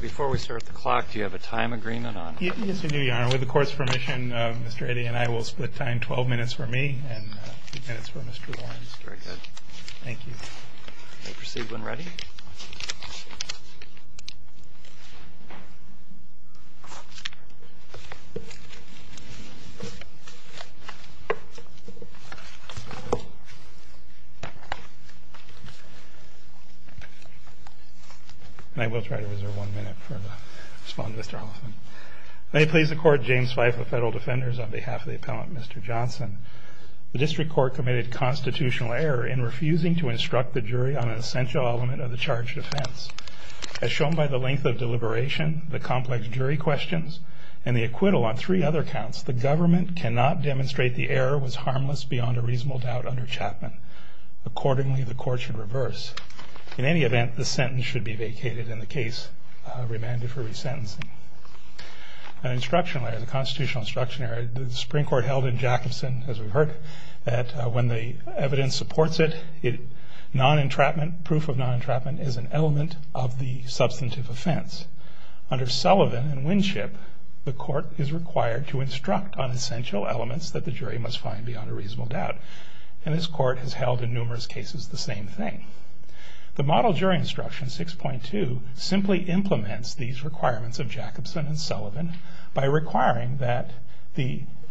Before we start the clock, do you have a time agreement on it? Yes, I do, Your Honor. With the Court's permission, Mr. Eddy and I will split time. Twelve minutes for me and two minutes for Mr. Lawrence. Very good. Thank you. May we proceed when ready? I will try to reserve one minute to respond to Mr. Hoffman. May it please the Court, James Fife of Federal Defenders, on behalf of the Appellant, Mr. Johnson. The District Court committed constitutional error in refusing to instruct the jury on an essential element of the charged offense. As shown by the length of deliberation, the complex jury questions, and the acquittal on three other counts, the government cannot demonstrate the error was harmless beyond a reasonable doubt under Chapman. Accordingly, the Court should reverse. In any event, the sentence should be vacated and the case remanded for resentencing. An instructional error, the constitutional instruction error, the Supreme Court held in Jackson, as we've heard, that when the evidence supports it, non-entrapment, proof of non-entrapment is an element of the substantive offense. Under Sullivan and Winship, the Court is required to instruct on essential elements that the jury must find beyond a reasonable doubt. And this Court has held in numerous cases the same thing. The Model Jury Instruction 6.2 simply implements these requirements of Jacobson and Sullivan by requiring that,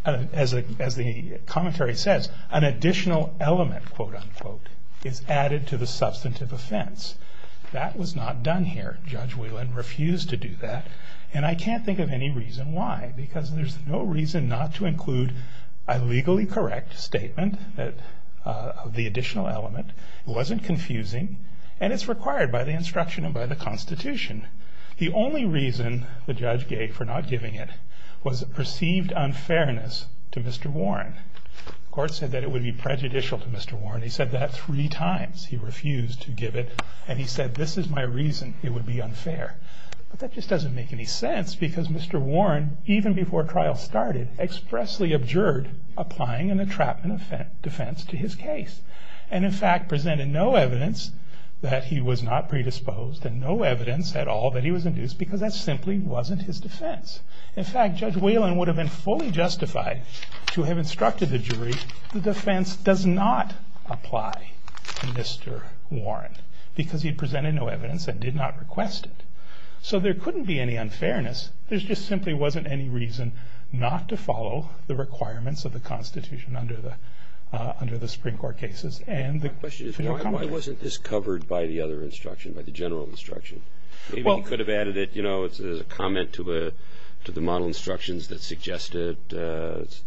as the commentary says, an additional element, quote-unquote, is added to the substantive offense. That was not done here. Judge Whelan refused to do that. And I can't think of any reason why, because there's no reason not to include a legally correct statement of the additional element. It wasn't confusing, and it's required by the instruction and by the Constitution. The only reason the judge gave for not giving it was a perceived unfairness to Mr. Warren. The Court said that it would be prejudicial to Mr. Warren. He said that three times. He refused to give it. And he said, this is my reason it would be unfair. But that just doesn't make any sense, because Mr. Warren, even before trial started, expressly objured applying an entrapment offense to his case. And, in fact, presented no evidence that he was not predisposed, and no evidence at all that he was induced, because that simply wasn't his defense. In fact, Judge Whelan would have been fully justified to have instructed the jury, the defense does not apply to Mr. Warren, because he presented no evidence and did not request it. So there couldn't be any unfairness. There just simply wasn't any reason not to follow the requirements of the Constitution under the Supreme Court cases. My question is, why wasn't this covered by the other instruction, by the general instruction? Maybe he could have added it, you know, as a comment to the model instructions that suggested there's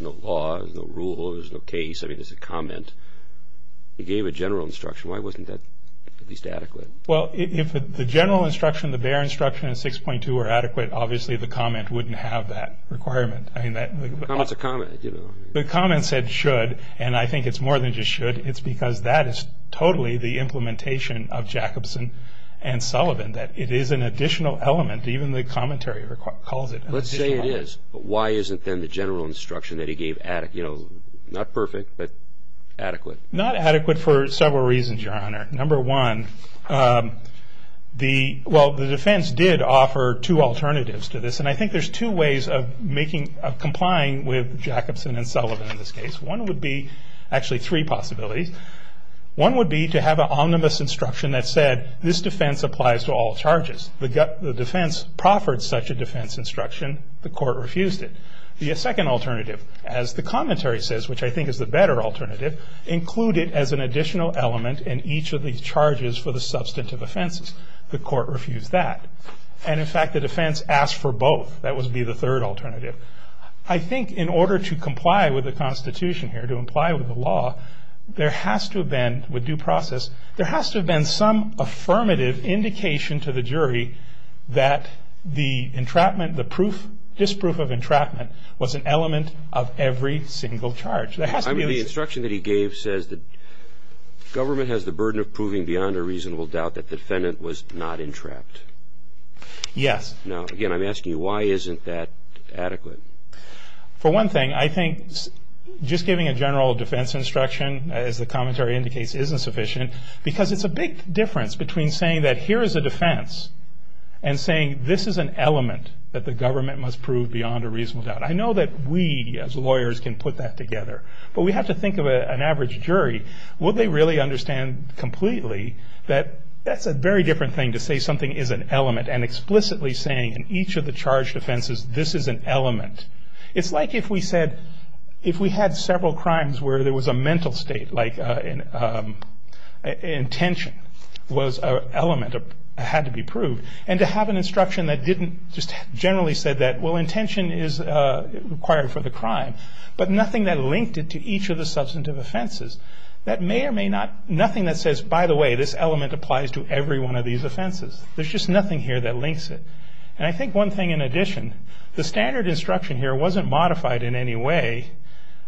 no law, there's no rule, there's no case. I mean, it's a comment. He gave a general instruction. Why wasn't that at least adequate? Well, if the general instruction, the bare instruction, and 6.2 were adequate, obviously the comment wouldn't have that requirement. It's a comment. The comment said should, and I think it's more than just should. It's because that is totally the implementation of Jacobson and Sullivan, that it is an additional element, even the commentary calls it an additional element. Let's say it is. Why isn't then the general instruction that he gave not perfect, but adequate? Not adequate for several reasons, Your Honor. Number one, the defense did offer two alternatives to this, and I think there's two ways of complying with Jacobson and Sullivan in this case. One would be, actually three possibilities. One would be to have an omnibus instruction that said this defense applies to all charges. The defense proffered such a defense instruction. The court refused it. The second alternative, as the commentary says, which I think is the better alternative, include it as an additional element in each of these charges for the substantive offenses. The court refused that. And, in fact, the defense asked for both. That would be the third alternative. I think in order to comply with the Constitution here, to comply with the law, there has to have been, with due process, there has to have been some affirmative indication to the jury that the entrapment, the disproof of entrapment was an element of every single charge. The instruction that he gave says that government has the burden of proving beyond a reasonable doubt that the defendant was not entrapped. Yes. Now, again, I'm asking you, why isn't that adequate? For one thing, I think just giving a general defense instruction, as the commentary indicates, isn't sufficient, because it's a big difference between saying that here is a defense and saying this is an element that the government must prove beyond a reasonable doubt. I know that we, as lawyers, can put that together. But we have to think of an average jury. Would they really understand completely that that's a very different thing to say something is an element and explicitly saying in each of the charge defenses this is an element. It's like if we said, if we had several crimes where there was a mental state, like intention was an element that had to be proved, and to have an instruction that didn't just generally say that, well, intention is required for the crime, but nothing that linked it to each of the substantive offenses, that may or may not, nothing that says, by the way, this element applies to every one of these offenses. There's just nothing here that links it. And I think one thing in addition, the standard instruction here wasn't modified in any way,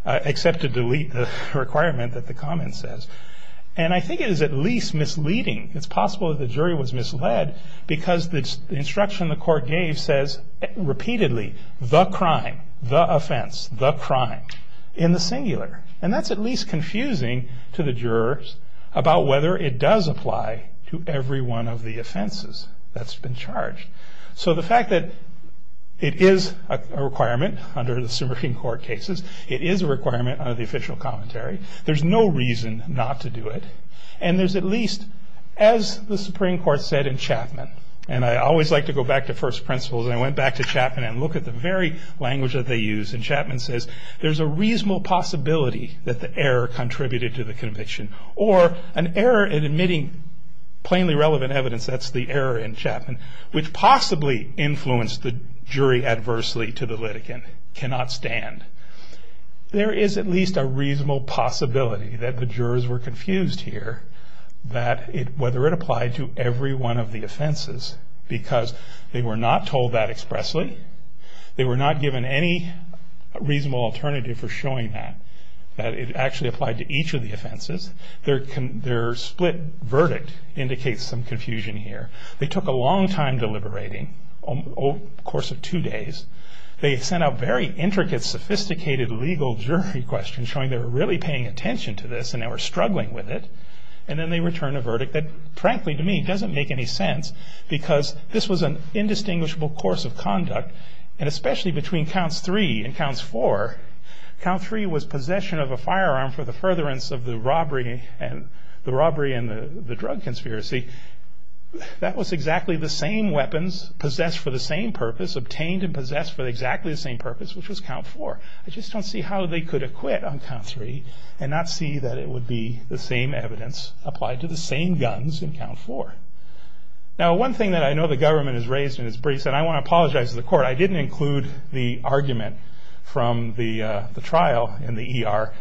except to delete the requirement that the comment says. And I think it is at least misleading. It's possible that the jury was misled because the instruction the court gave says repeatedly, the crime, the offense, the crime in the singular. And that's at least confusing to the jurors about whether it does apply to every one of the offenses that's been charged. So the fact that it is a requirement under the Supreme Court cases, it is a requirement under the official commentary, there's no reason not to do it, and there's at least, as the Supreme Court said in Chapman, and I always like to go back to first principles, and I went back to Chapman and look at the very language that they use, and Chapman says, there's a reasonable possibility that the error contributed to the conviction, or an error in admitting plainly relevant evidence, that's the error in Chapman, which possibly influenced the jury adversely to the litigant, cannot stand. There is at least a reasonable possibility that the jurors were confused here, that whether it applied to every one of the offenses, because they were not told that expressly, they were not given any reasonable alternative for showing that, that it actually applied to each of the offenses. Their split verdict indicates some confusion here. They took a long time deliberating, over the course of two days. They sent out very intricate, sophisticated legal jury questions, showing they were really paying attention to this, and they were struggling with it, and then they return a verdict that, frankly to me, doesn't make any sense, because this was an indistinguishable course of conduct, and especially between Counts 3 and Counts 4, Count 3 was possession of a firearm for the furtherance of the robbery, and the robbery and the drug conspiracy, that was exactly the same weapons, possessed for the same purpose, obtained and possessed for exactly the same purpose, which was Count 4. I just don't see how they could acquit on Count 3, and not see that it would be the same evidence, applied to the same guns in Count 4. Now one thing that I know the government has raised, and it's brief, and I want to apologize to the court, I didn't include the argument from the trial in the ER.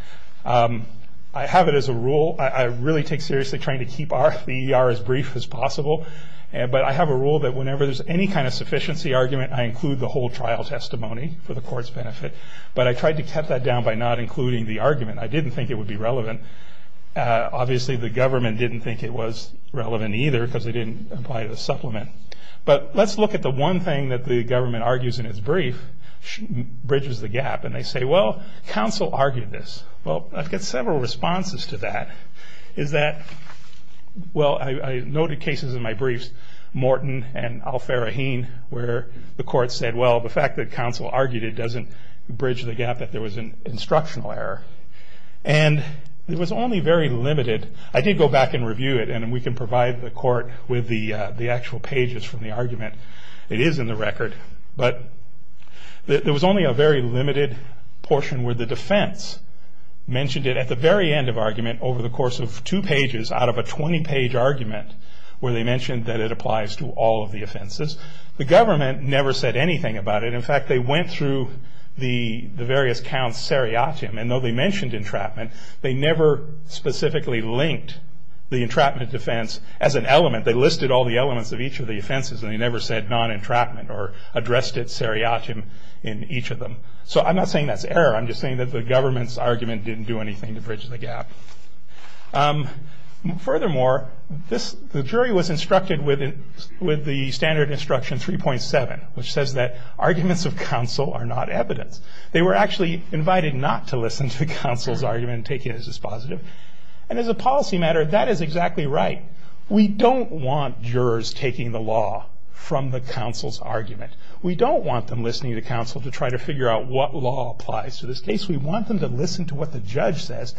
I have it as a rule, I really take seriously, trying to keep the ER as brief as possible, but I have a rule that whenever there's any kind of sufficiency argument, I include the whole trial testimony for the court's benefit, but I tried to cut that down by not including the argument. I didn't think it would be relevant. Obviously the government didn't think it was relevant either, because they didn't apply the supplement. But let's look at the one thing that the government argues in its brief, bridges the gap, and they say, well, counsel argued this. Well, I've got several responses to that. Well, I noted cases in my briefs, Morton and Al-Faraheen, where the court said, well, the fact that counsel argued it doesn't bridge the gap that there was an instructional error. And it was only very limited. I did go back and review it, and we can provide the court with the actual pages from the argument. It is in the record, but there was only a very limited portion where the defense mentioned it at the very end of argument over the course of two pages out of a 20-page argument where they mentioned that it applies to all of the offenses. The government never said anything about it. In fact, they went through the various counts seriatim, and though they mentioned entrapment, they never specifically linked the entrapment defense as an element. They listed all the elements of each of the offenses, and they never said non-entrapment or addressed it seriatim in each of them. So I'm not saying that's error. I'm just saying that the government's argument didn't do anything to bridge the gap. Furthermore, the jury was instructed with the standard instruction 3.7, which says that arguments of counsel are not evidence. They were actually invited not to listen to the counsel's argument and take it as dispositive. And as a policy matter, that is exactly right. We don't want them listening to counsel to try to figure out what law applies to this case. We want them to listen to what the judge says.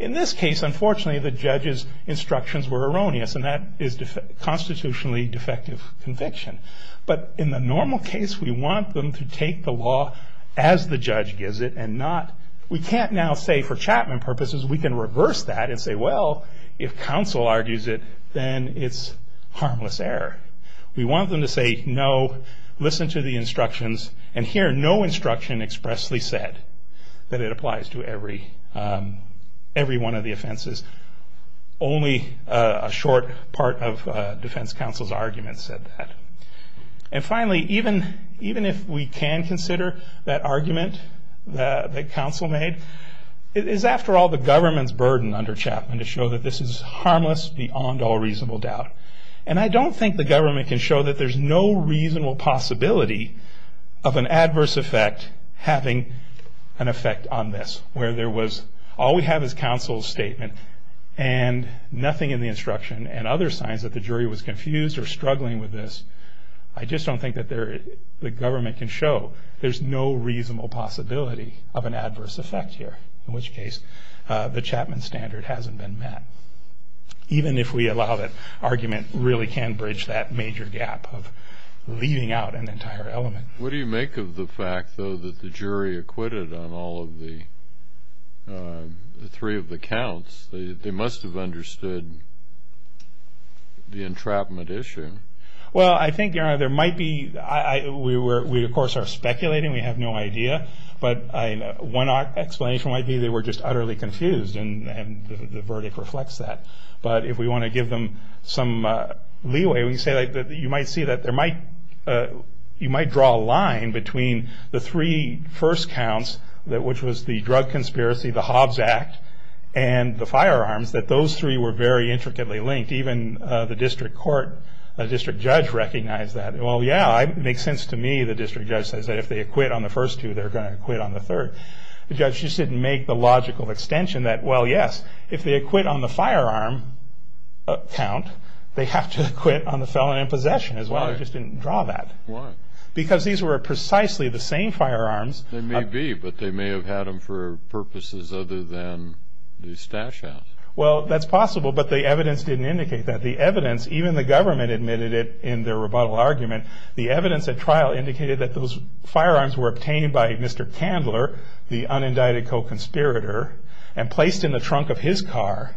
In this case, unfortunately, the judge's instructions were erroneous, and that is constitutionally defective conviction. But in the normal case, we want them to take the law as the judge gives it and not... We can't now say, for Chapman purposes, we can reverse that and say, well, if counsel argues it, then it's harmless error. We want them to say no, listen to the instructions, and here no instruction expressly said that it applies to every one of the offenses. Only a short part of defense counsel's argument said that. And finally, even if we can consider that argument that counsel made, it is, after all, the government's burden under Chapman to show that this is harmless beyond all reasonable doubt. And I don't think the government can show that there's no reasonable possibility of an adverse effect having an effect on this, where all we have is counsel's statement and nothing in the instruction and other signs that the jury was confused or struggling with this. I just don't think that the government can show there's no reasonable possibility of an adverse effect here, in which case the Chapman standard hasn't been met. Even if we allow that argument, it really can bridge that major gap of leaving out an entire element. What do you make of the fact, though, that the jury acquitted on all of the three of the counts? They must have understood the entrapment issue. Well, I think there might be. We, of course, are speculating. We have no idea, but one explanation might be they were just utterly confused and the verdict reflects that. But if we want to give them some leeway, you might see that you might draw a line between the three first counts, which was the drug conspiracy, the Hobbs Act, and the firearms, that those three were very intricately linked. Even the district judge recognized that. Well, yeah, it makes sense to me, the district judge says, that if they acquit on the first two, they're going to acquit on the third. The judge just didn't make the logical extension that, well, yes, if they acquit on the firearm count, they have to acquit on the felon in possession as well. They just didn't draw that. Why? Because these were precisely the same firearms. They may be, but they may have had them for purposes other than the stash-out. Well, that's possible, but the evidence didn't indicate that. The evidence, even the government admitted it in their rebuttal argument, the evidence at trial indicated that those firearms were obtained by Mr. Candler, the unindicted co-conspirator, and placed in the trunk of his car.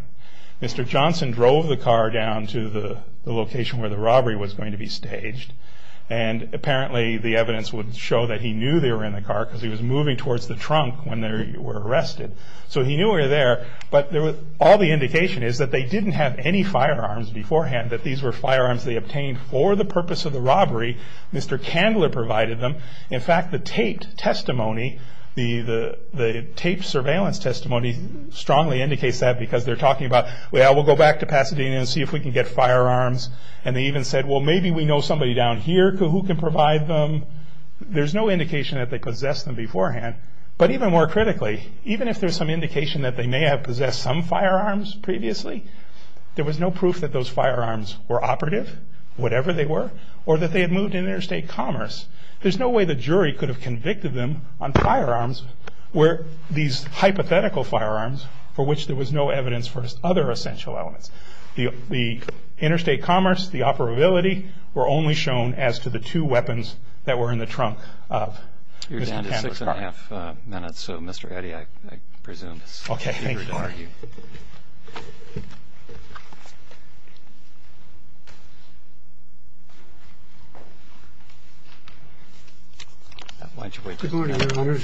Mr. Johnson drove the car down to the location where the robbery was going to be staged, and apparently the evidence would show that he knew they were in the car because he was moving towards the trunk when they were arrested. So he knew they were there, but all the indication is that they didn't have any firearms beforehand, that these were firearms they obtained for the purpose of the robbery. Mr. Candler provided them. In fact, the taped testimony, the taped surveillance testimony, strongly indicates that because they're talking about, well, we'll go back to Pasadena and see if we can get firearms. And they even said, well, maybe we know somebody down here who can provide them. There's no indication that they possessed them beforehand. But even more critically, even if there's some indication that they may have possessed some firearms previously, there was no proof that those firearms were operative, whatever they were, or that they had moved in interstate commerce. There's no way the jury could have convicted them on firearms where these hypothetical firearms, for which there was no evidence for other essential elements. The interstate commerce, the operability, were only shown as to the two weapons that were in the trunk of Mr. Candler's car. You're down to six and a half minutes, so Mr. Eddy, I presume, is free to argue. Thank you. Why don't you wait just a minute. Good morning,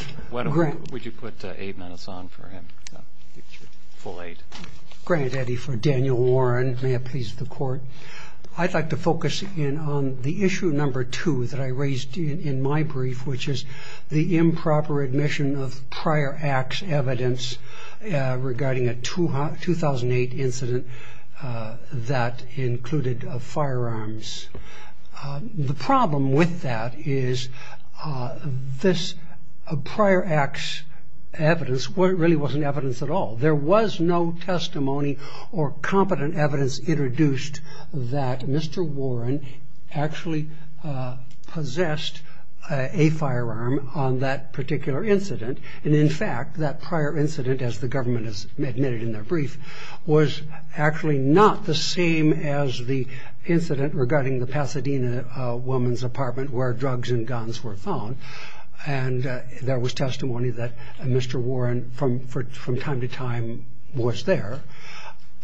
Your Honors. Would you put eight minutes on for him? Full eight. Grant Eddy for Daniel Warren. May it please the Court. I'd like to focus in on the issue number two that I raised in my brief, which is the improper admission of prior acts evidence regarding a 2008 incident that included firearms. The problem with that is this prior acts evidence really wasn't evidence at all. There was no testimony or competent evidence introduced that Mr. Warren actually possessed a firearm on that particular incident. And, in fact, that prior incident, as the government has admitted in their brief, was actually not the same as the incident regarding the Pasadena woman's apartment where drugs and guns were found. And there was testimony that Mr. Warren, from time to time, was there.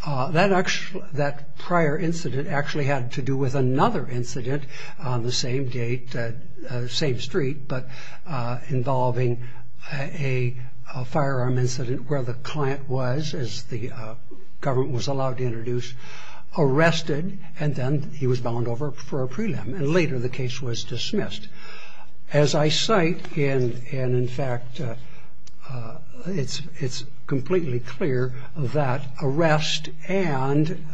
That prior incident actually had to do with another incident on the same street, but involving a firearm incident where the client was, as the government was allowed to introduce, arrested, and then he was bound over for a prelim, and later the case was dismissed. As I cite, and, in fact, it's completely clear that arrest and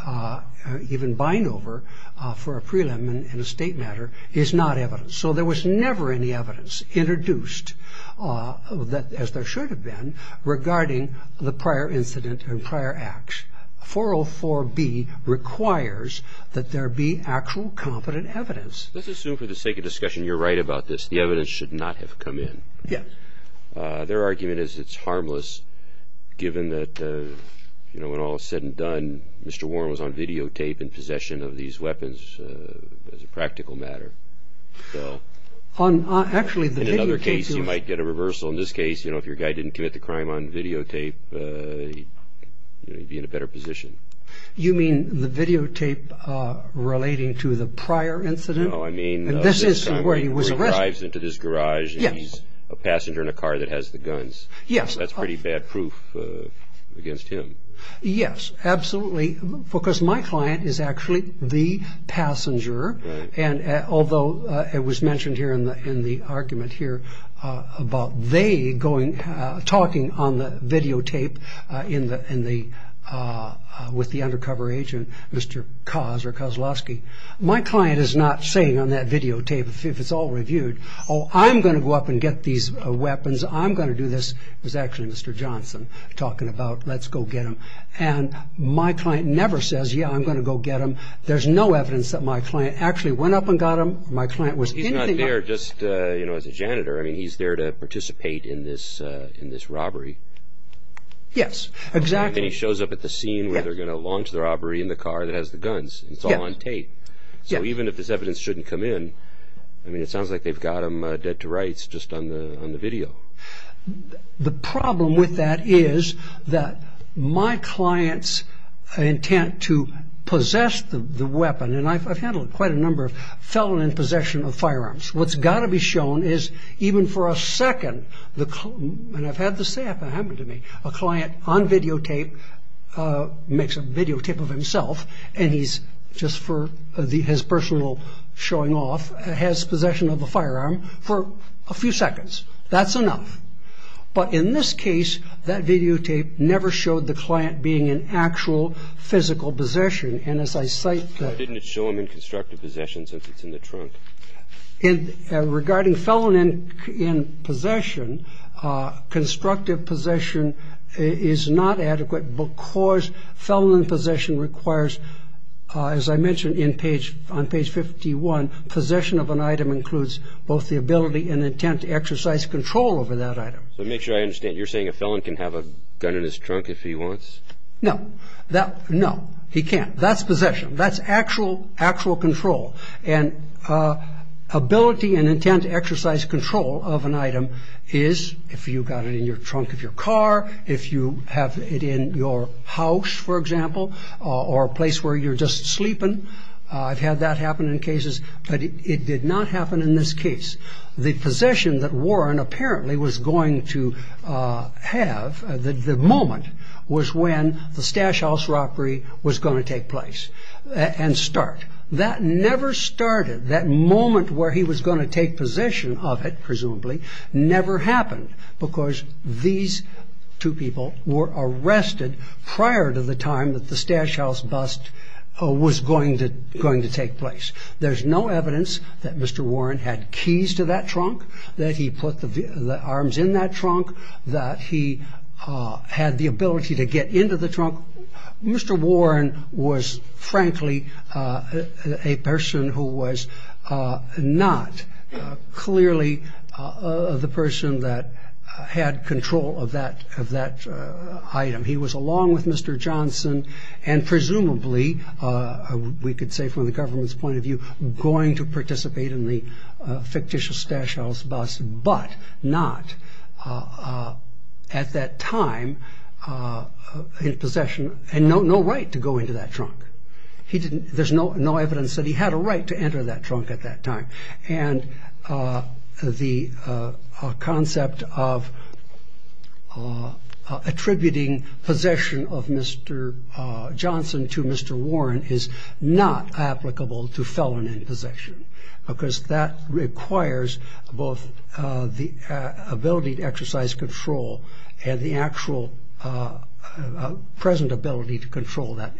even bind over for a prelim in a state matter is not evidence. So there was never any evidence introduced, as there should have been, regarding the prior incident and prior acts. 404B requires that there be actual competent evidence. Let's assume, for the sake of discussion, you're right about this. The evidence should not have come in. Yes. Their argument is it's harmless, given that, you know, when all is said and done, Mr. Warren was on videotape in possession of these weapons as a practical matter. So, in another case, you might get a reversal. In this case, you know, if your guy didn't commit the crime on videotape, you'd be in a better position. You mean the videotape relating to the prior incident? No, I mean this is where he was arrested. He arrives into this garage, and he's a passenger in a car that has the guns. Yes. That's pretty bad proof against him. Yes, absolutely, because my client is actually the passenger, and although it was mentioned here in the argument here about they going, talking on the videotape with the undercover agent, Mr. Kaz, or Kozlowski, my client is not saying on that videotape, if it's all reviewed, oh, I'm going to go up and get these weapons. I'm going to do this. It was actually Mr. Johnson talking about, let's go get them. And my client never says, yeah, I'm going to go get them. There's no evidence that my client actually went up and got them. He's not there just, you know, as a janitor. I mean, he's there to participate in this robbery. Yes, exactly. And he shows up at the scene where they're going to launch the robbery in the car that has the guns. It's all on tape. So even if this evidence shouldn't come in, I mean, it sounds like they've got him dead to rights just on the video. The problem with that is that my client's intent to possess the weapon, and I've handled quite a number of felon in possession of firearms. What's got to be shown is even for a second, and I've had this happen to me, a client on videotape makes a videotape of himself, and he's just for his personal showing off, has possession of a firearm for a few seconds. That's enough. But in this case, that videotape never showed the client being in actual physical possession. And as I cite- Why didn't it show him in constructive possession since it's in the trunk? Regarding felon in possession, constructive possession is not adequate because felon in possession requires, as I mentioned on page 51, possession of an item includes both the ability and intent to exercise control over that item. So to make sure I understand, you're saying a felon can have a gun in his trunk if he wants? No. No, he can't. That's possession. That's actual control. And ability and intent to exercise control of an item is if you've got it in the trunk of your car, if you have it in your house, for example, or a place where you're just sleeping. I've had that happen in cases, but it did not happen in this case. The possession that Warren apparently was going to have, the moment, was when the Stash House robbery was going to take place and start. That never started. That moment where he was going to take possession of it, presumably, never happened because these two people were arrested prior to the time that the Stash House bust was going to take place. There's no evidence that Mr. Warren had keys to that trunk, that he put the arms in that trunk, that he had the ability to get into the trunk. Mr. Warren was, frankly, a person who was not clearly the person that had control of that item. He was, along with Mr. Johnson, and presumably, we could say from the government's point of view, going to participate in the fictitious Stash House bust, but not at that time in possession, and no right to go into that trunk. There's no evidence that he had a right to enter that trunk at that time. The concept of attributing possession of Mr. Johnson to Mr. Warren is not applicable to felon in possession because that requires both the ability to exercise control and the actual present ability to control that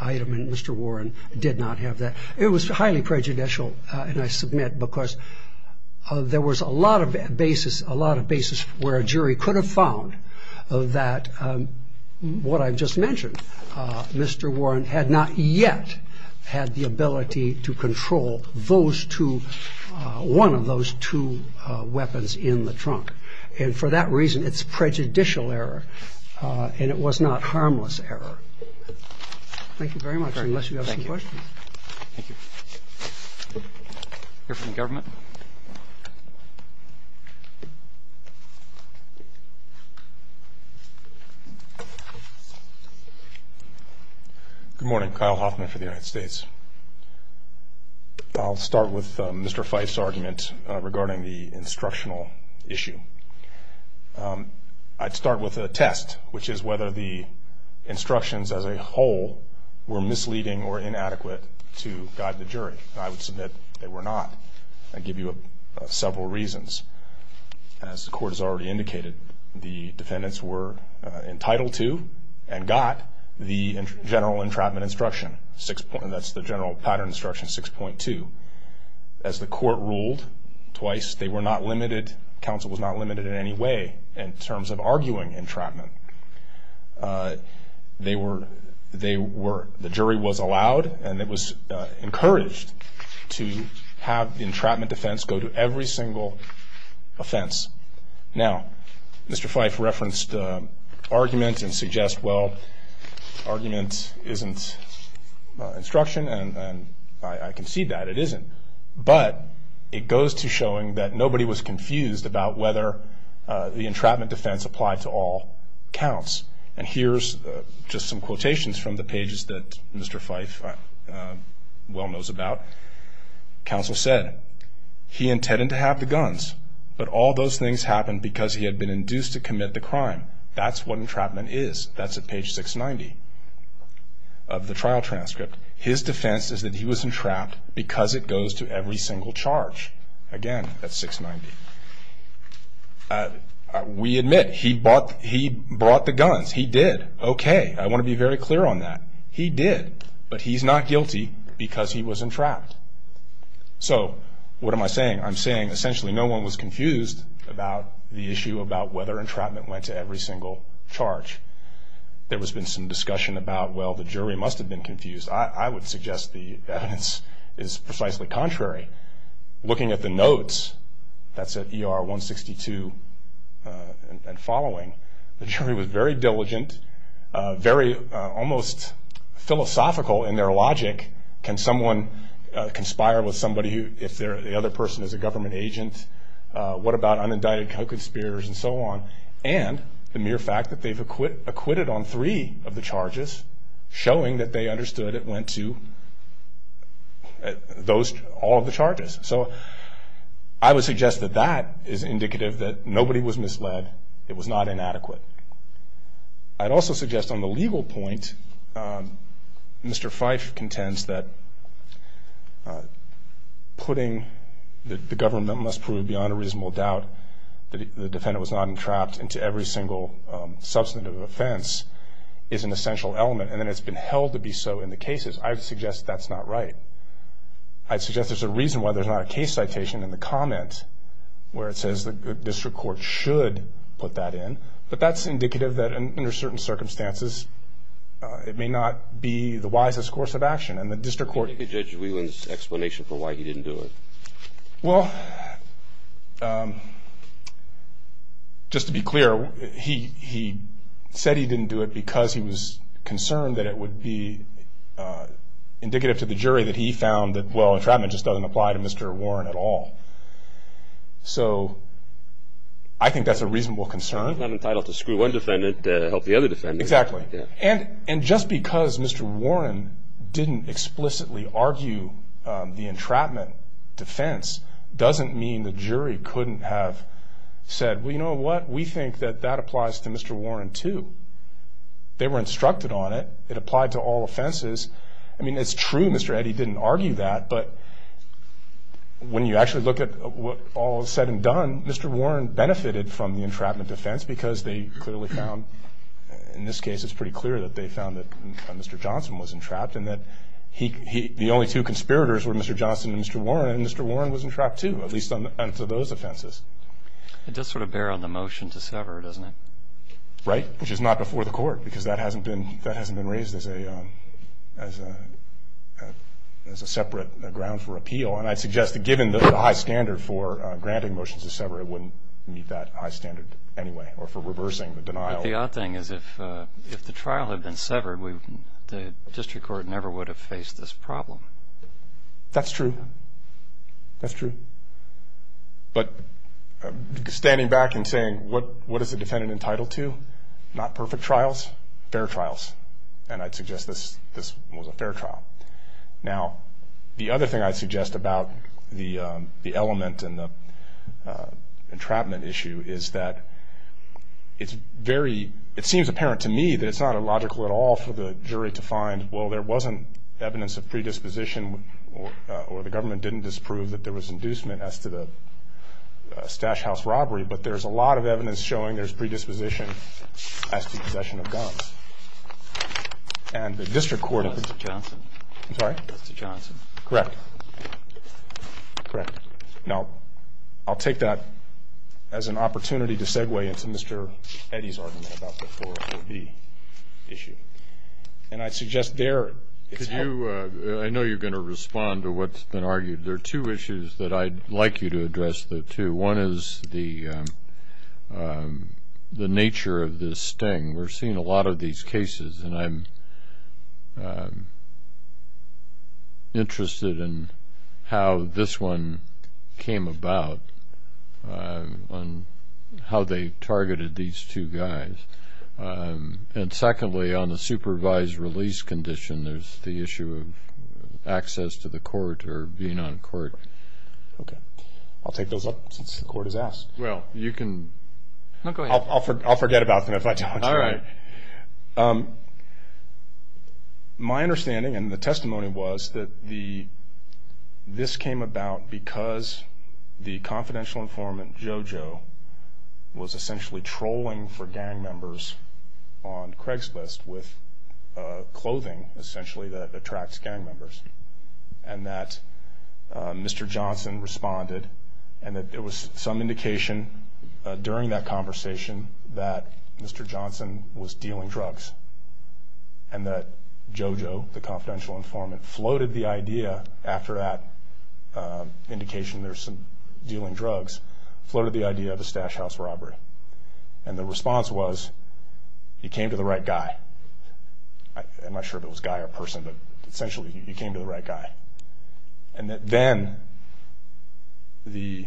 item, and Mr. Warren did not have that. It was highly prejudicial, and I submit, because there was a lot of basis where a jury could have found that what I've just mentioned, Mr. Warren had not yet had the ability to control one of those two weapons in the trunk. And for that reason, it's prejudicial error, and it was not harmless error. Thank you very much, unless you have some questions. Thank you. Here from government. Good morning. Kyle Hoffman for the United States. I'll start with Mr. Fife's argument regarding the instructional issue. I'd start with a test, which is whether the instructions as a whole were misleading or inadequate to guide the jury, and I would submit they were not. I'd give you several reasons. As the court has already indicated, the defendants were entitled to and got the general entrapment instruction, and that's the general pattern instruction 6.2. As the court ruled twice, they were not limited. Counsel was not limited in any way in terms of arguing entrapment. The jury was allowed and it was encouraged to have the entrapment defense go to every single offense. Now, Mr. Fife referenced argument and suggests, well, argument isn't instruction, and I concede that. It isn't, but it goes to showing that nobody was confused about whether the entrapment defense applied to all counts. And here's just some quotations from the pages that Mr. Fife well knows about. Counsel said, he intended to have the guns, but all those things happened because he had been induced to commit the crime. That's what entrapment is. That's at page 690 of the trial transcript. His defense is that he was entrapped because it goes to every single charge. Again, that's 690. We admit he brought the guns. He did. Okay, I want to be very clear on that. He did, but he's not guilty because he was entrapped. So what am I saying? I'm saying essentially no one was confused about the issue about whether entrapment went to every single charge. There has been some discussion about, well, the jury must have been confused. I would suggest the evidence is precisely contrary. Looking at the notes, that's at ER 162 and following, the jury was very diligent, very almost philosophical in their logic. Can someone conspire with somebody if the other person is a government agent? What about unindicted co-conspirators and so on? And the mere fact that they've acquitted on three of the charges, showing that they understood it went to all of the charges. So I would suggest that that is indicative that nobody was misled. It was not inadequate. I'd also suggest on the legal point, Mr. Fife contends that putting the government must prove beyond a reasonable doubt that the defendant was not entrapped into every single substantive offense is an essential element. And then it's been held to be so in the cases. I would suggest that's not right. I'd suggest there's a reason why there's not a case citation in the comment where it says the district court should put that in. But that's indicative that under certain circumstances, it may not be the wisest course of action. And the district court – Can you give Judge Whelan's explanation for why he didn't do it? Well, just to be clear, he said he didn't do it because he was concerned that it would be indicative to the jury that he found that, well, entrapment just doesn't apply to Mr. Warren at all. So I think that's a reasonable concern. He's not entitled to screw one defendant to help the other defendant. Exactly. And just because Mr. Warren didn't explicitly argue the entrapment defense doesn't mean the jury couldn't have said, well, you know what? We think that that applies to Mr. Warren, too. They were instructed on it. It applied to all offenses. I mean, it's true Mr. Eddy didn't argue that. But when you actually look at what all is said and done, Mr. Warren benefited from the entrapment defense because they clearly found – in this case, it's pretty clear that they found that Mr. Johnson was entrapped and that the only two conspirators were Mr. Johnson and Mr. Warren, and Mr. Warren was entrapped, too, at least on those offenses. It does sort of bear on the motion to sever, doesn't it? Right, which is not before the court because that hasn't been raised as a separate ground for appeal. And I'd suggest that given the high standard for granting motions to sever, it wouldn't meet that high standard anyway or for reversing the denial. But the odd thing is if the trial had been severed, the district court never would have faced this problem. That's true. That's true. But standing back and saying, what is the defendant entitled to? Not perfect trials, fair trials. And I'd suggest this was a fair trial. Now, the other thing I'd suggest about the element in the entrapment issue is that it's very – it seems apparent to me that it's not illogical at all for the jury to find, well, there wasn't evidence of predisposition or the government didn't disprove that there was inducement as to the Stash House robbery, but there's a lot of evidence showing there's predisposition as to the possession of guns. And the district court – Justice Johnson. I'm sorry? Justice Johnson. Correct. Correct. Now, I'll take that as an opportunity to segue into Mr. Eddy's argument about the 440B issue. And I'd suggest there it's – Could you – I know you're going to respond to what's been argued. There are two issues that I'd like you to address, though, too. One is the nature of this sting. We're seeing a lot of these cases, and I'm interested in how this one came about on how they targeted these two guys. And secondly, on the supervised release condition, there's the issue of access to the court or being on court. Okay. I'll take those up since the court has asked. Well, you can – No, go ahead. I'll forget about them if I don't. All right. My understanding, and the testimony was, that this came about because the confidential informant, JoJo, was essentially trolling for gang members on Craigslist with clothing, essentially, that attracts gang members. And that Mr. Johnson responded, and that there was some indication during that conversation that Mr. Johnson was dealing drugs. And that JoJo, the confidential informant, floated the idea after that indication there's some dealing drugs, floated the idea of a stash house robbery. And the response was, you came to the right guy. I'm not sure if it was guy or person, but essentially, you came to the right guy. And that then Mr.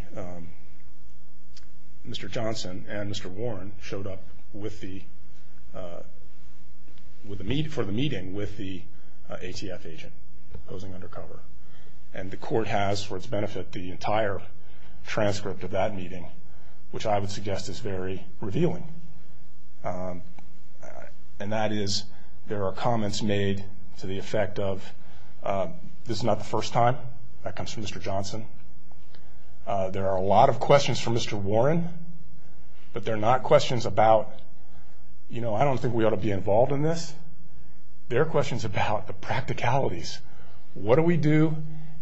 Johnson and Mr. Warren showed up for the meeting with the ATF agent posing undercover. And the court has, for its benefit, the entire transcript of that meeting, which I would suggest is very revealing. And that is, there are comments made to the effect of, this is not the first time that comes from Mr. Johnson. There are a lot of questions from Mr. Warren, but they're not questions about, you know, I don't think we ought to be involved in this. They're questions about the practicalities. What do we do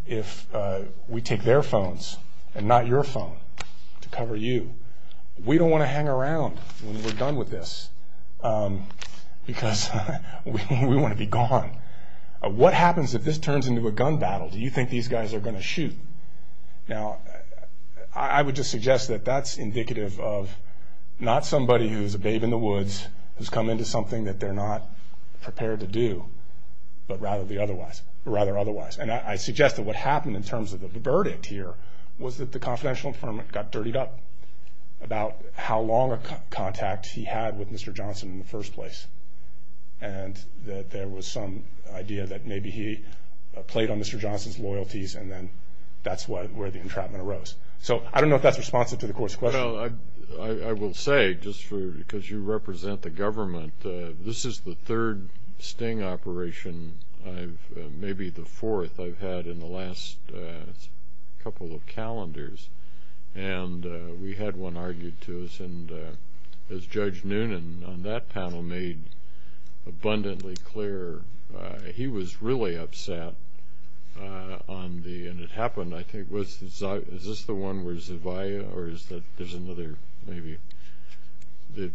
if we take their phones and not your phone to cover you? We don't want to hang around when we're done with this because we want to be gone. What happens if this turns into a gun battle? Do you think these guys are going to shoot? Now, I would just suggest that that's indicative of not somebody who's a babe in the woods, who's come into something that they're not prepared to do, but rather otherwise. And I suggest that what happened in terms of the verdict here was that the confidential informant got dirtied up about how long a contact he had with Mr. Johnson in the first place and that there was some idea that maybe he played on Mr. Johnson's loyalties and then that's where the entrapment arose. So I don't know if that's responsive to the Court's question. Well, I will say, just because you represent the government, this is the third sting operation, maybe the fourth, I've had in the last couple of calendars. And we had one argued to us, and as Judge Noonan on that panel made abundantly clear, he was really upset on the—and it happened, I think— is this the one where Zavia, or is there another, maybe, the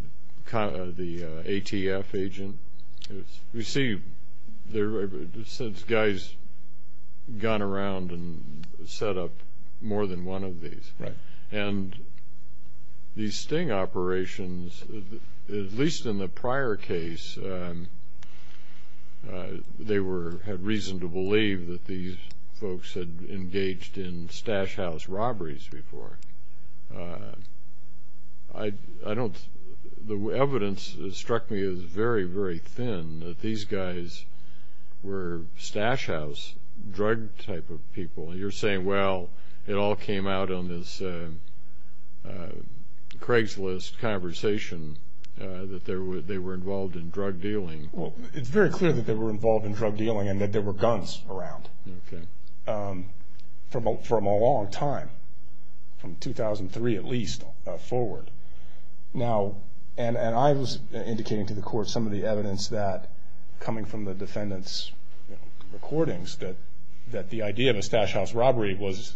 ATF agent? You see, since guys have gone around and set up more than one of these. Right. And these sting operations, at least in the prior case, they had reason to believe that these folks had engaged in stash house robberies before. The evidence struck me as very, very thin, that these guys were stash house, drug type of people. And you're saying, well, it all came out on this Craigslist conversation that they were involved in drug dealing. Well, it's very clear that they were involved in drug dealing and that there were guns around. Okay. From a long time, from 2003 at least forward. Now, and I was indicating to the Court some of the evidence that, coming from the defendant's recordings, that the idea of a stash house robbery was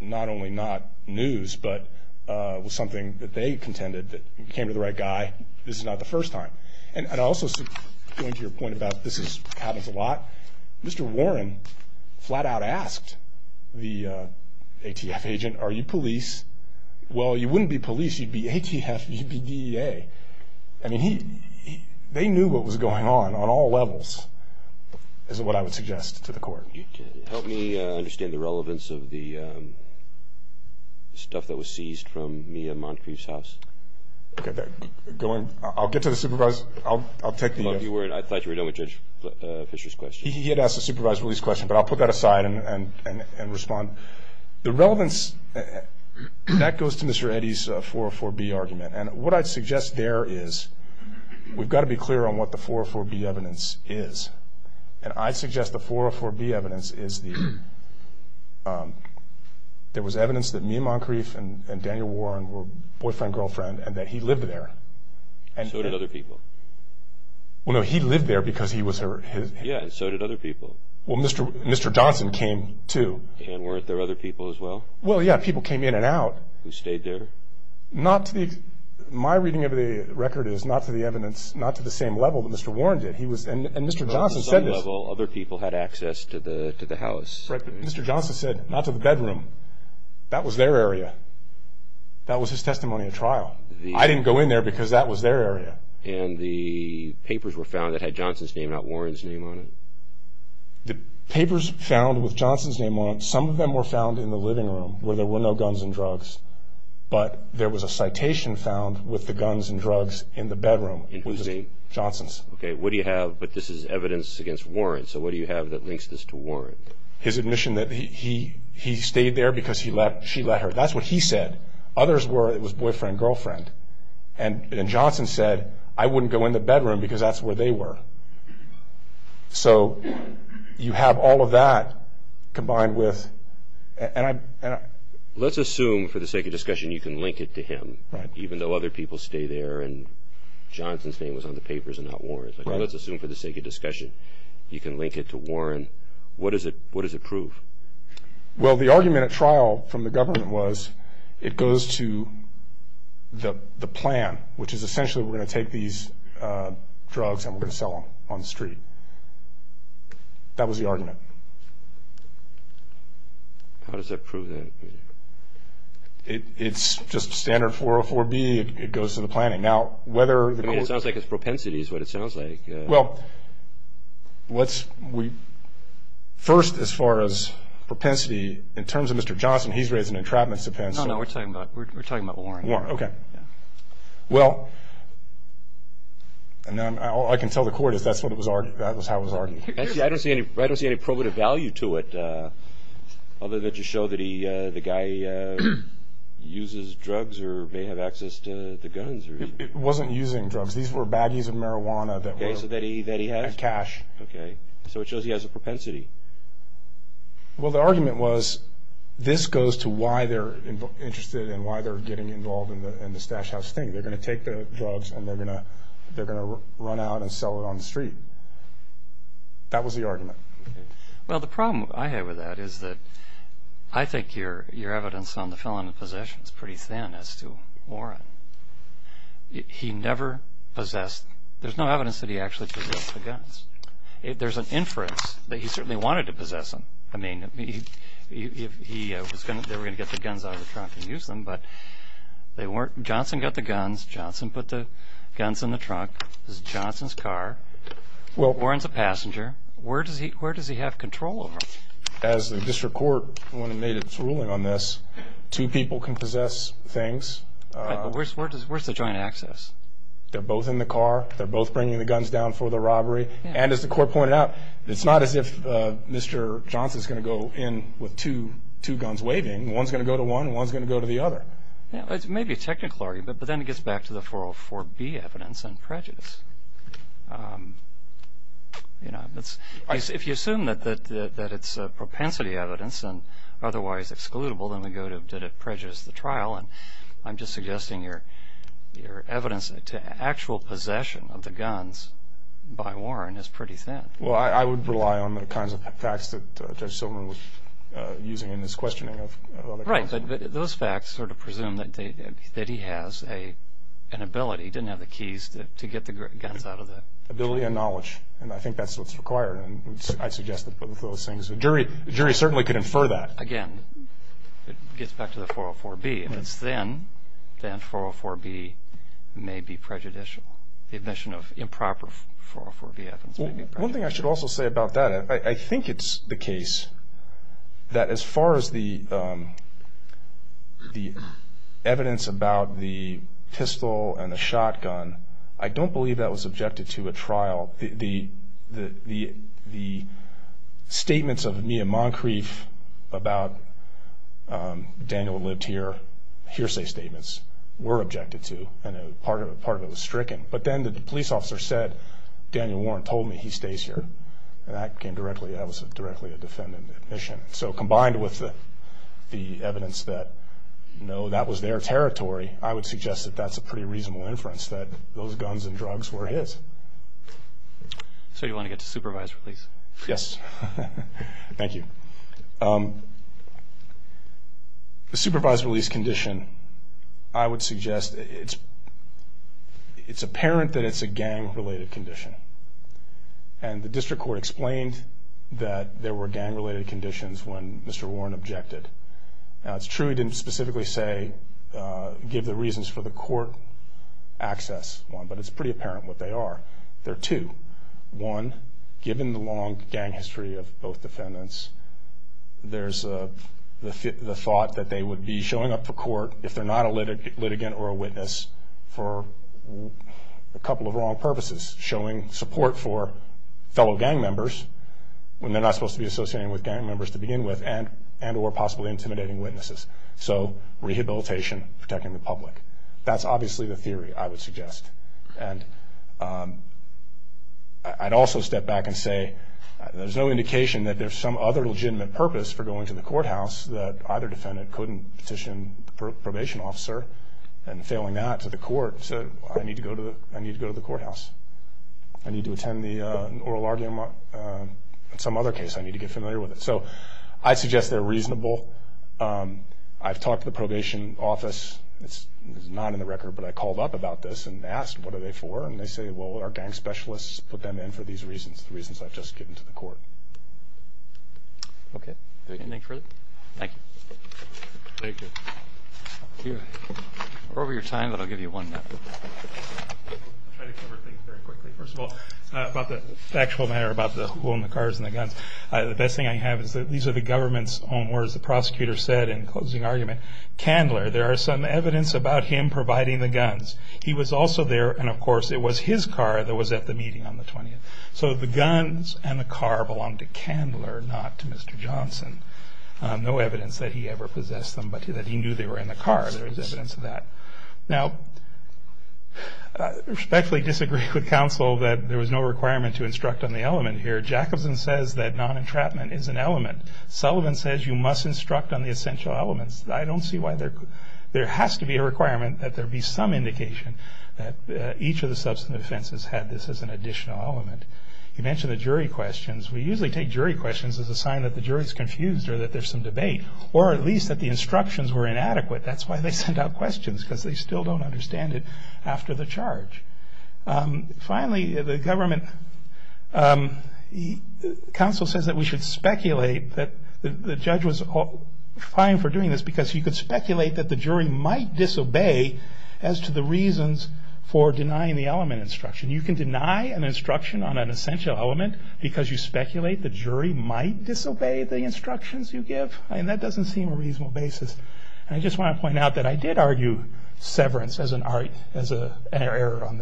not only not news, but was something that they contended that we came to the right guy. This is not the first time. And I also go into your point about this happens a lot. Mr. Warren flat out asked the ATF agent, are you police? Well, you wouldn't be police. You'd be ATF. You'd be DEA. I mean, they knew what was going on, on all levels, is what I would suggest to the Court. Help me understand the relevance of the stuff that was seized from Mia Moncrief's house. Okay. Go ahead. I'll get to the supervisor. I'll take the answer. I thought you were done with Judge Fischer's question. He had asked the supervisor his question, but I'll put that aside and respond. The relevance, that goes to Mr. Eddy's 404B argument. And what I'd suggest there is we've got to be clear on what the 404B evidence is. And I'd suggest the 404B evidence is there was evidence that Mia Moncrief and Daniel Warren were boyfriend-girlfriend and that he lived there. So did other people. Well, no, he lived there because he was her husband. Yeah, and so did other people. Well, Mr. Johnson came too. And weren't there other people as well? Well, yeah, people came in and out. Who stayed there? My reading of the record is not to the evidence, not to the same level that Mr. Warren did. And Mr. Johnson said this. Other people had access to the house. Mr. Johnson said, not to the bedroom. That was their area. That was his testimony at trial. I didn't go in there because that was their area. And the papers were found that had Johnson's name, not Warren's name on it. The papers found with Johnson's name on it, some of them were found in the living room where there were no guns and drugs, but there was a citation found with the guns and drugs in the bedroom. Whose name? Johnson's. Okay, what do you have? But this is evidence against Warren. So what do you have that links this to Warren? His admission that he stayed there because she let her. That's what he said. Others were it was boyfriend-girlfriend. And Johnson said, I wouldn't go in the bedroom because that's where they were. So you have all of that combined with. Let's assume for the sake of discussion you can link it to him, even though other people stay there and Johnson's name was on the papers and not Warren's. Let's assume for the sake of discussion you can link it to Warren. What does it prove? Well, the argument at trial from the government was it goes to the plan, which is essentially we're going to take these drugs and we're going to sell them on the street. That was the argument. How does that prove that? It's just standard 404B. It goes to the planning. I mean it sounds like it's propensity is what it sounds like. Well, first as far as propensity, in terms of Mr. Johnson, he's raised an entrapment defense. No, no, we're talking about Warren. Warren, okay. Well, all I can tell the court is that's how it was argued. I don't see any probative value to it other than to show that the guy uses drugs or may have access to the guns. It wasn't using drugs. These were baggies of marijuana that were cash. Okay, so it shows he has a propensity. Well, the argument was this goes to why they're interested and why they're getting involved in the stash house thing. They're going to take the drugs and they're going to run out and sell it on the street. That was the argument. Well, the problem I had with that is that I think your evidence on the felon in possession is pretty thin as to Warren. He never possessed – there's no evidence that he actually possessed the guns. There's an inference that he certainly wanted to possess them. I mean, they were going to get the guns out of the trunk and use them, but they weren't. Johnson got the guns. Johnson put the guns in the trunk. This is Johnson's car. Warren's a passenger. Where does he have control over? As the district court, when it made its ruling on this, two people can possess things. Right, but where's the joint access? They're both in the car. They're both bringing the guns down for the robbery. And as the court pointed out, it's not as if Mr. Johnson's going to go in with two guns waving. One's going to go to one and one's going to go to the other. It may be a technical argument, but then it gets back to the 404B evidence and prejudice. If you assume that it's propensity evidence and otherwise excludable, then we go to did it prejudice the trial, and I'm just suggesting your evidence to actual possession of the guns by Warren is pretty thin. Well, I would rely on the kinds of facts that Judge Silverman was using in his questioning of other cases. Right, but those facts sort of presume that he has an ability. He didn't have the keys to get the guns out of the trunk. Ability and knowledge, and I think that's what's required, and I'd suggest that both of those things. The jury certainly could infer that. Again, it gets back to the 404B. If it's thin, then 404B may be prejudicial. The admission of improper 404B evidence may be prejudicial. One thing I should also say about that, I think it's the case that as far as the evidence about the pistol and the shotgun, I don't believe that was subjected to a trial. The statements of Mia Moncrief about Daniel lived here, hearsay statements, were objected to, and part of it was stricken. But then the police officer said, Daniel Warren told me he stays here, and that was directly a defendant admission. So combined with the evidence that that was their territory, I would suggest that that's a pretty reasonable inference that those guns and drugs were his. So you want to get to supervised release? Yes. Thank you. The supervised release condition, I would suggest it's apparent that it's a gang-related condition, and the district court explained that there were gang-related conditions when Mr. Warren objected. Now, it's true he didn't specifically give the reasons for the court access, but it's pretty apparent what they are. They're two. One, given the long gang history of both defendants, there's the thought that they would be showing up for court, if they're not a litigant or a witness, for a couple of wrong purposes, showing support for fellow gang members when they're not supposed to be associated with gang members to begin with, and or possibly intimidating witnesses. So rehabilitation, protecting the public. That's obviously the theory I would suggest. And I'd also step back and say there's no indication that there's some other legitimate purpose for going to the courthouse that either defendant couldn't petition the probation officer, and failing that, to the court, said, I need to go to the courthouse. I need to attend the oral argument on some other case. I need to get familiar with it. So I suggest they're reasonable. I've talked to the probation office. It's not in the record, but I called up about this and asked, what are they for? And they say, well, our gang specialists put them in for these reasons, the reasons I've just given to the court. Okay. Anything further? Thank you. Thank you. We're over your time, but I'll give you one minute. I'll try to cover things very quickly. First of all, about the actual matter, about the who own the cars and the guns. The best thing I have is that these are the government's own words. The prosecutor said in closing argument, Candler, there are some evidence about him providing the guns. He was also there, and, of course, it was his car that was at the meeting on the 20th. So the guns and the car belonged to Candler, not to Mr. Johnson. No evidence that he ever possessed them, but that he knew they were in the car. There is evidence of that. Now, I respectfully disagree with counsel that there was no requirement to instruct on the element here. Jacobson says that non-entrapment is an element. Sullivan says you must instruct on the essential elements. I don't see why there has to be a requirement that there be some indication that each of the substance offenses had this as an additional element. You mentioned the jury questions. We usually take jury questions as a sign that the jury is confused or that there's some debate, or at least that the instructions were inadequate. That's why they sent out questions, because they still don't understand it after the charge. Finally, the government counsel says that we should speculate that the judge was fine for doing this, because you could speculate that the jury might disobey as to the reasons for denying the element instruction. You can deny an instruction on an essential element because you speculate the jury might disobey the instructions you give. I mean, that doesn't seem a reasonable basis. I just want to point out that I did argue severance as an error in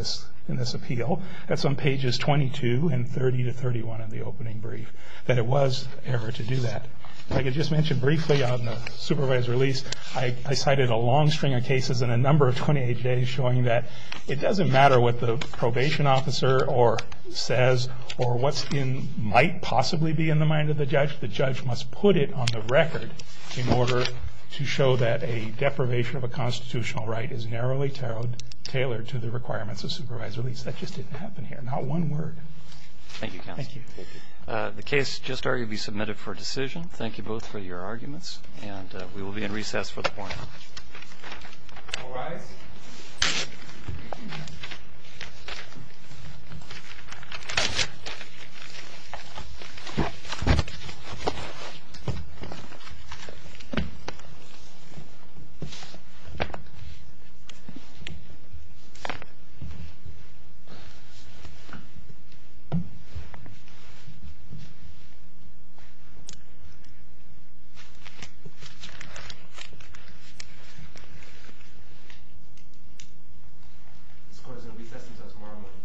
this appeal. That's on pages 22 and 30 to 31 of the opening brief, that it was an error to do that. Like I just mentioned briefly on the supervised release, I cited a long string of cases in a number of 28 days showing that it doesn't matter what the probation officer says or what might possibly be in the mind of the judge. The judge must put it on the record in order to show that a deprivation of a constitutional right is narrowly tailored to the requirements of supervised release. That just didn't happen here. Not one word. Thank you, counsel. Thank you. The case just arguably submitted for decision. Thank you both for your arguments, and we will be in recess for the morning. All rise. Thank you. This court is in recess until tomorrow morning. Thank you. Thank you.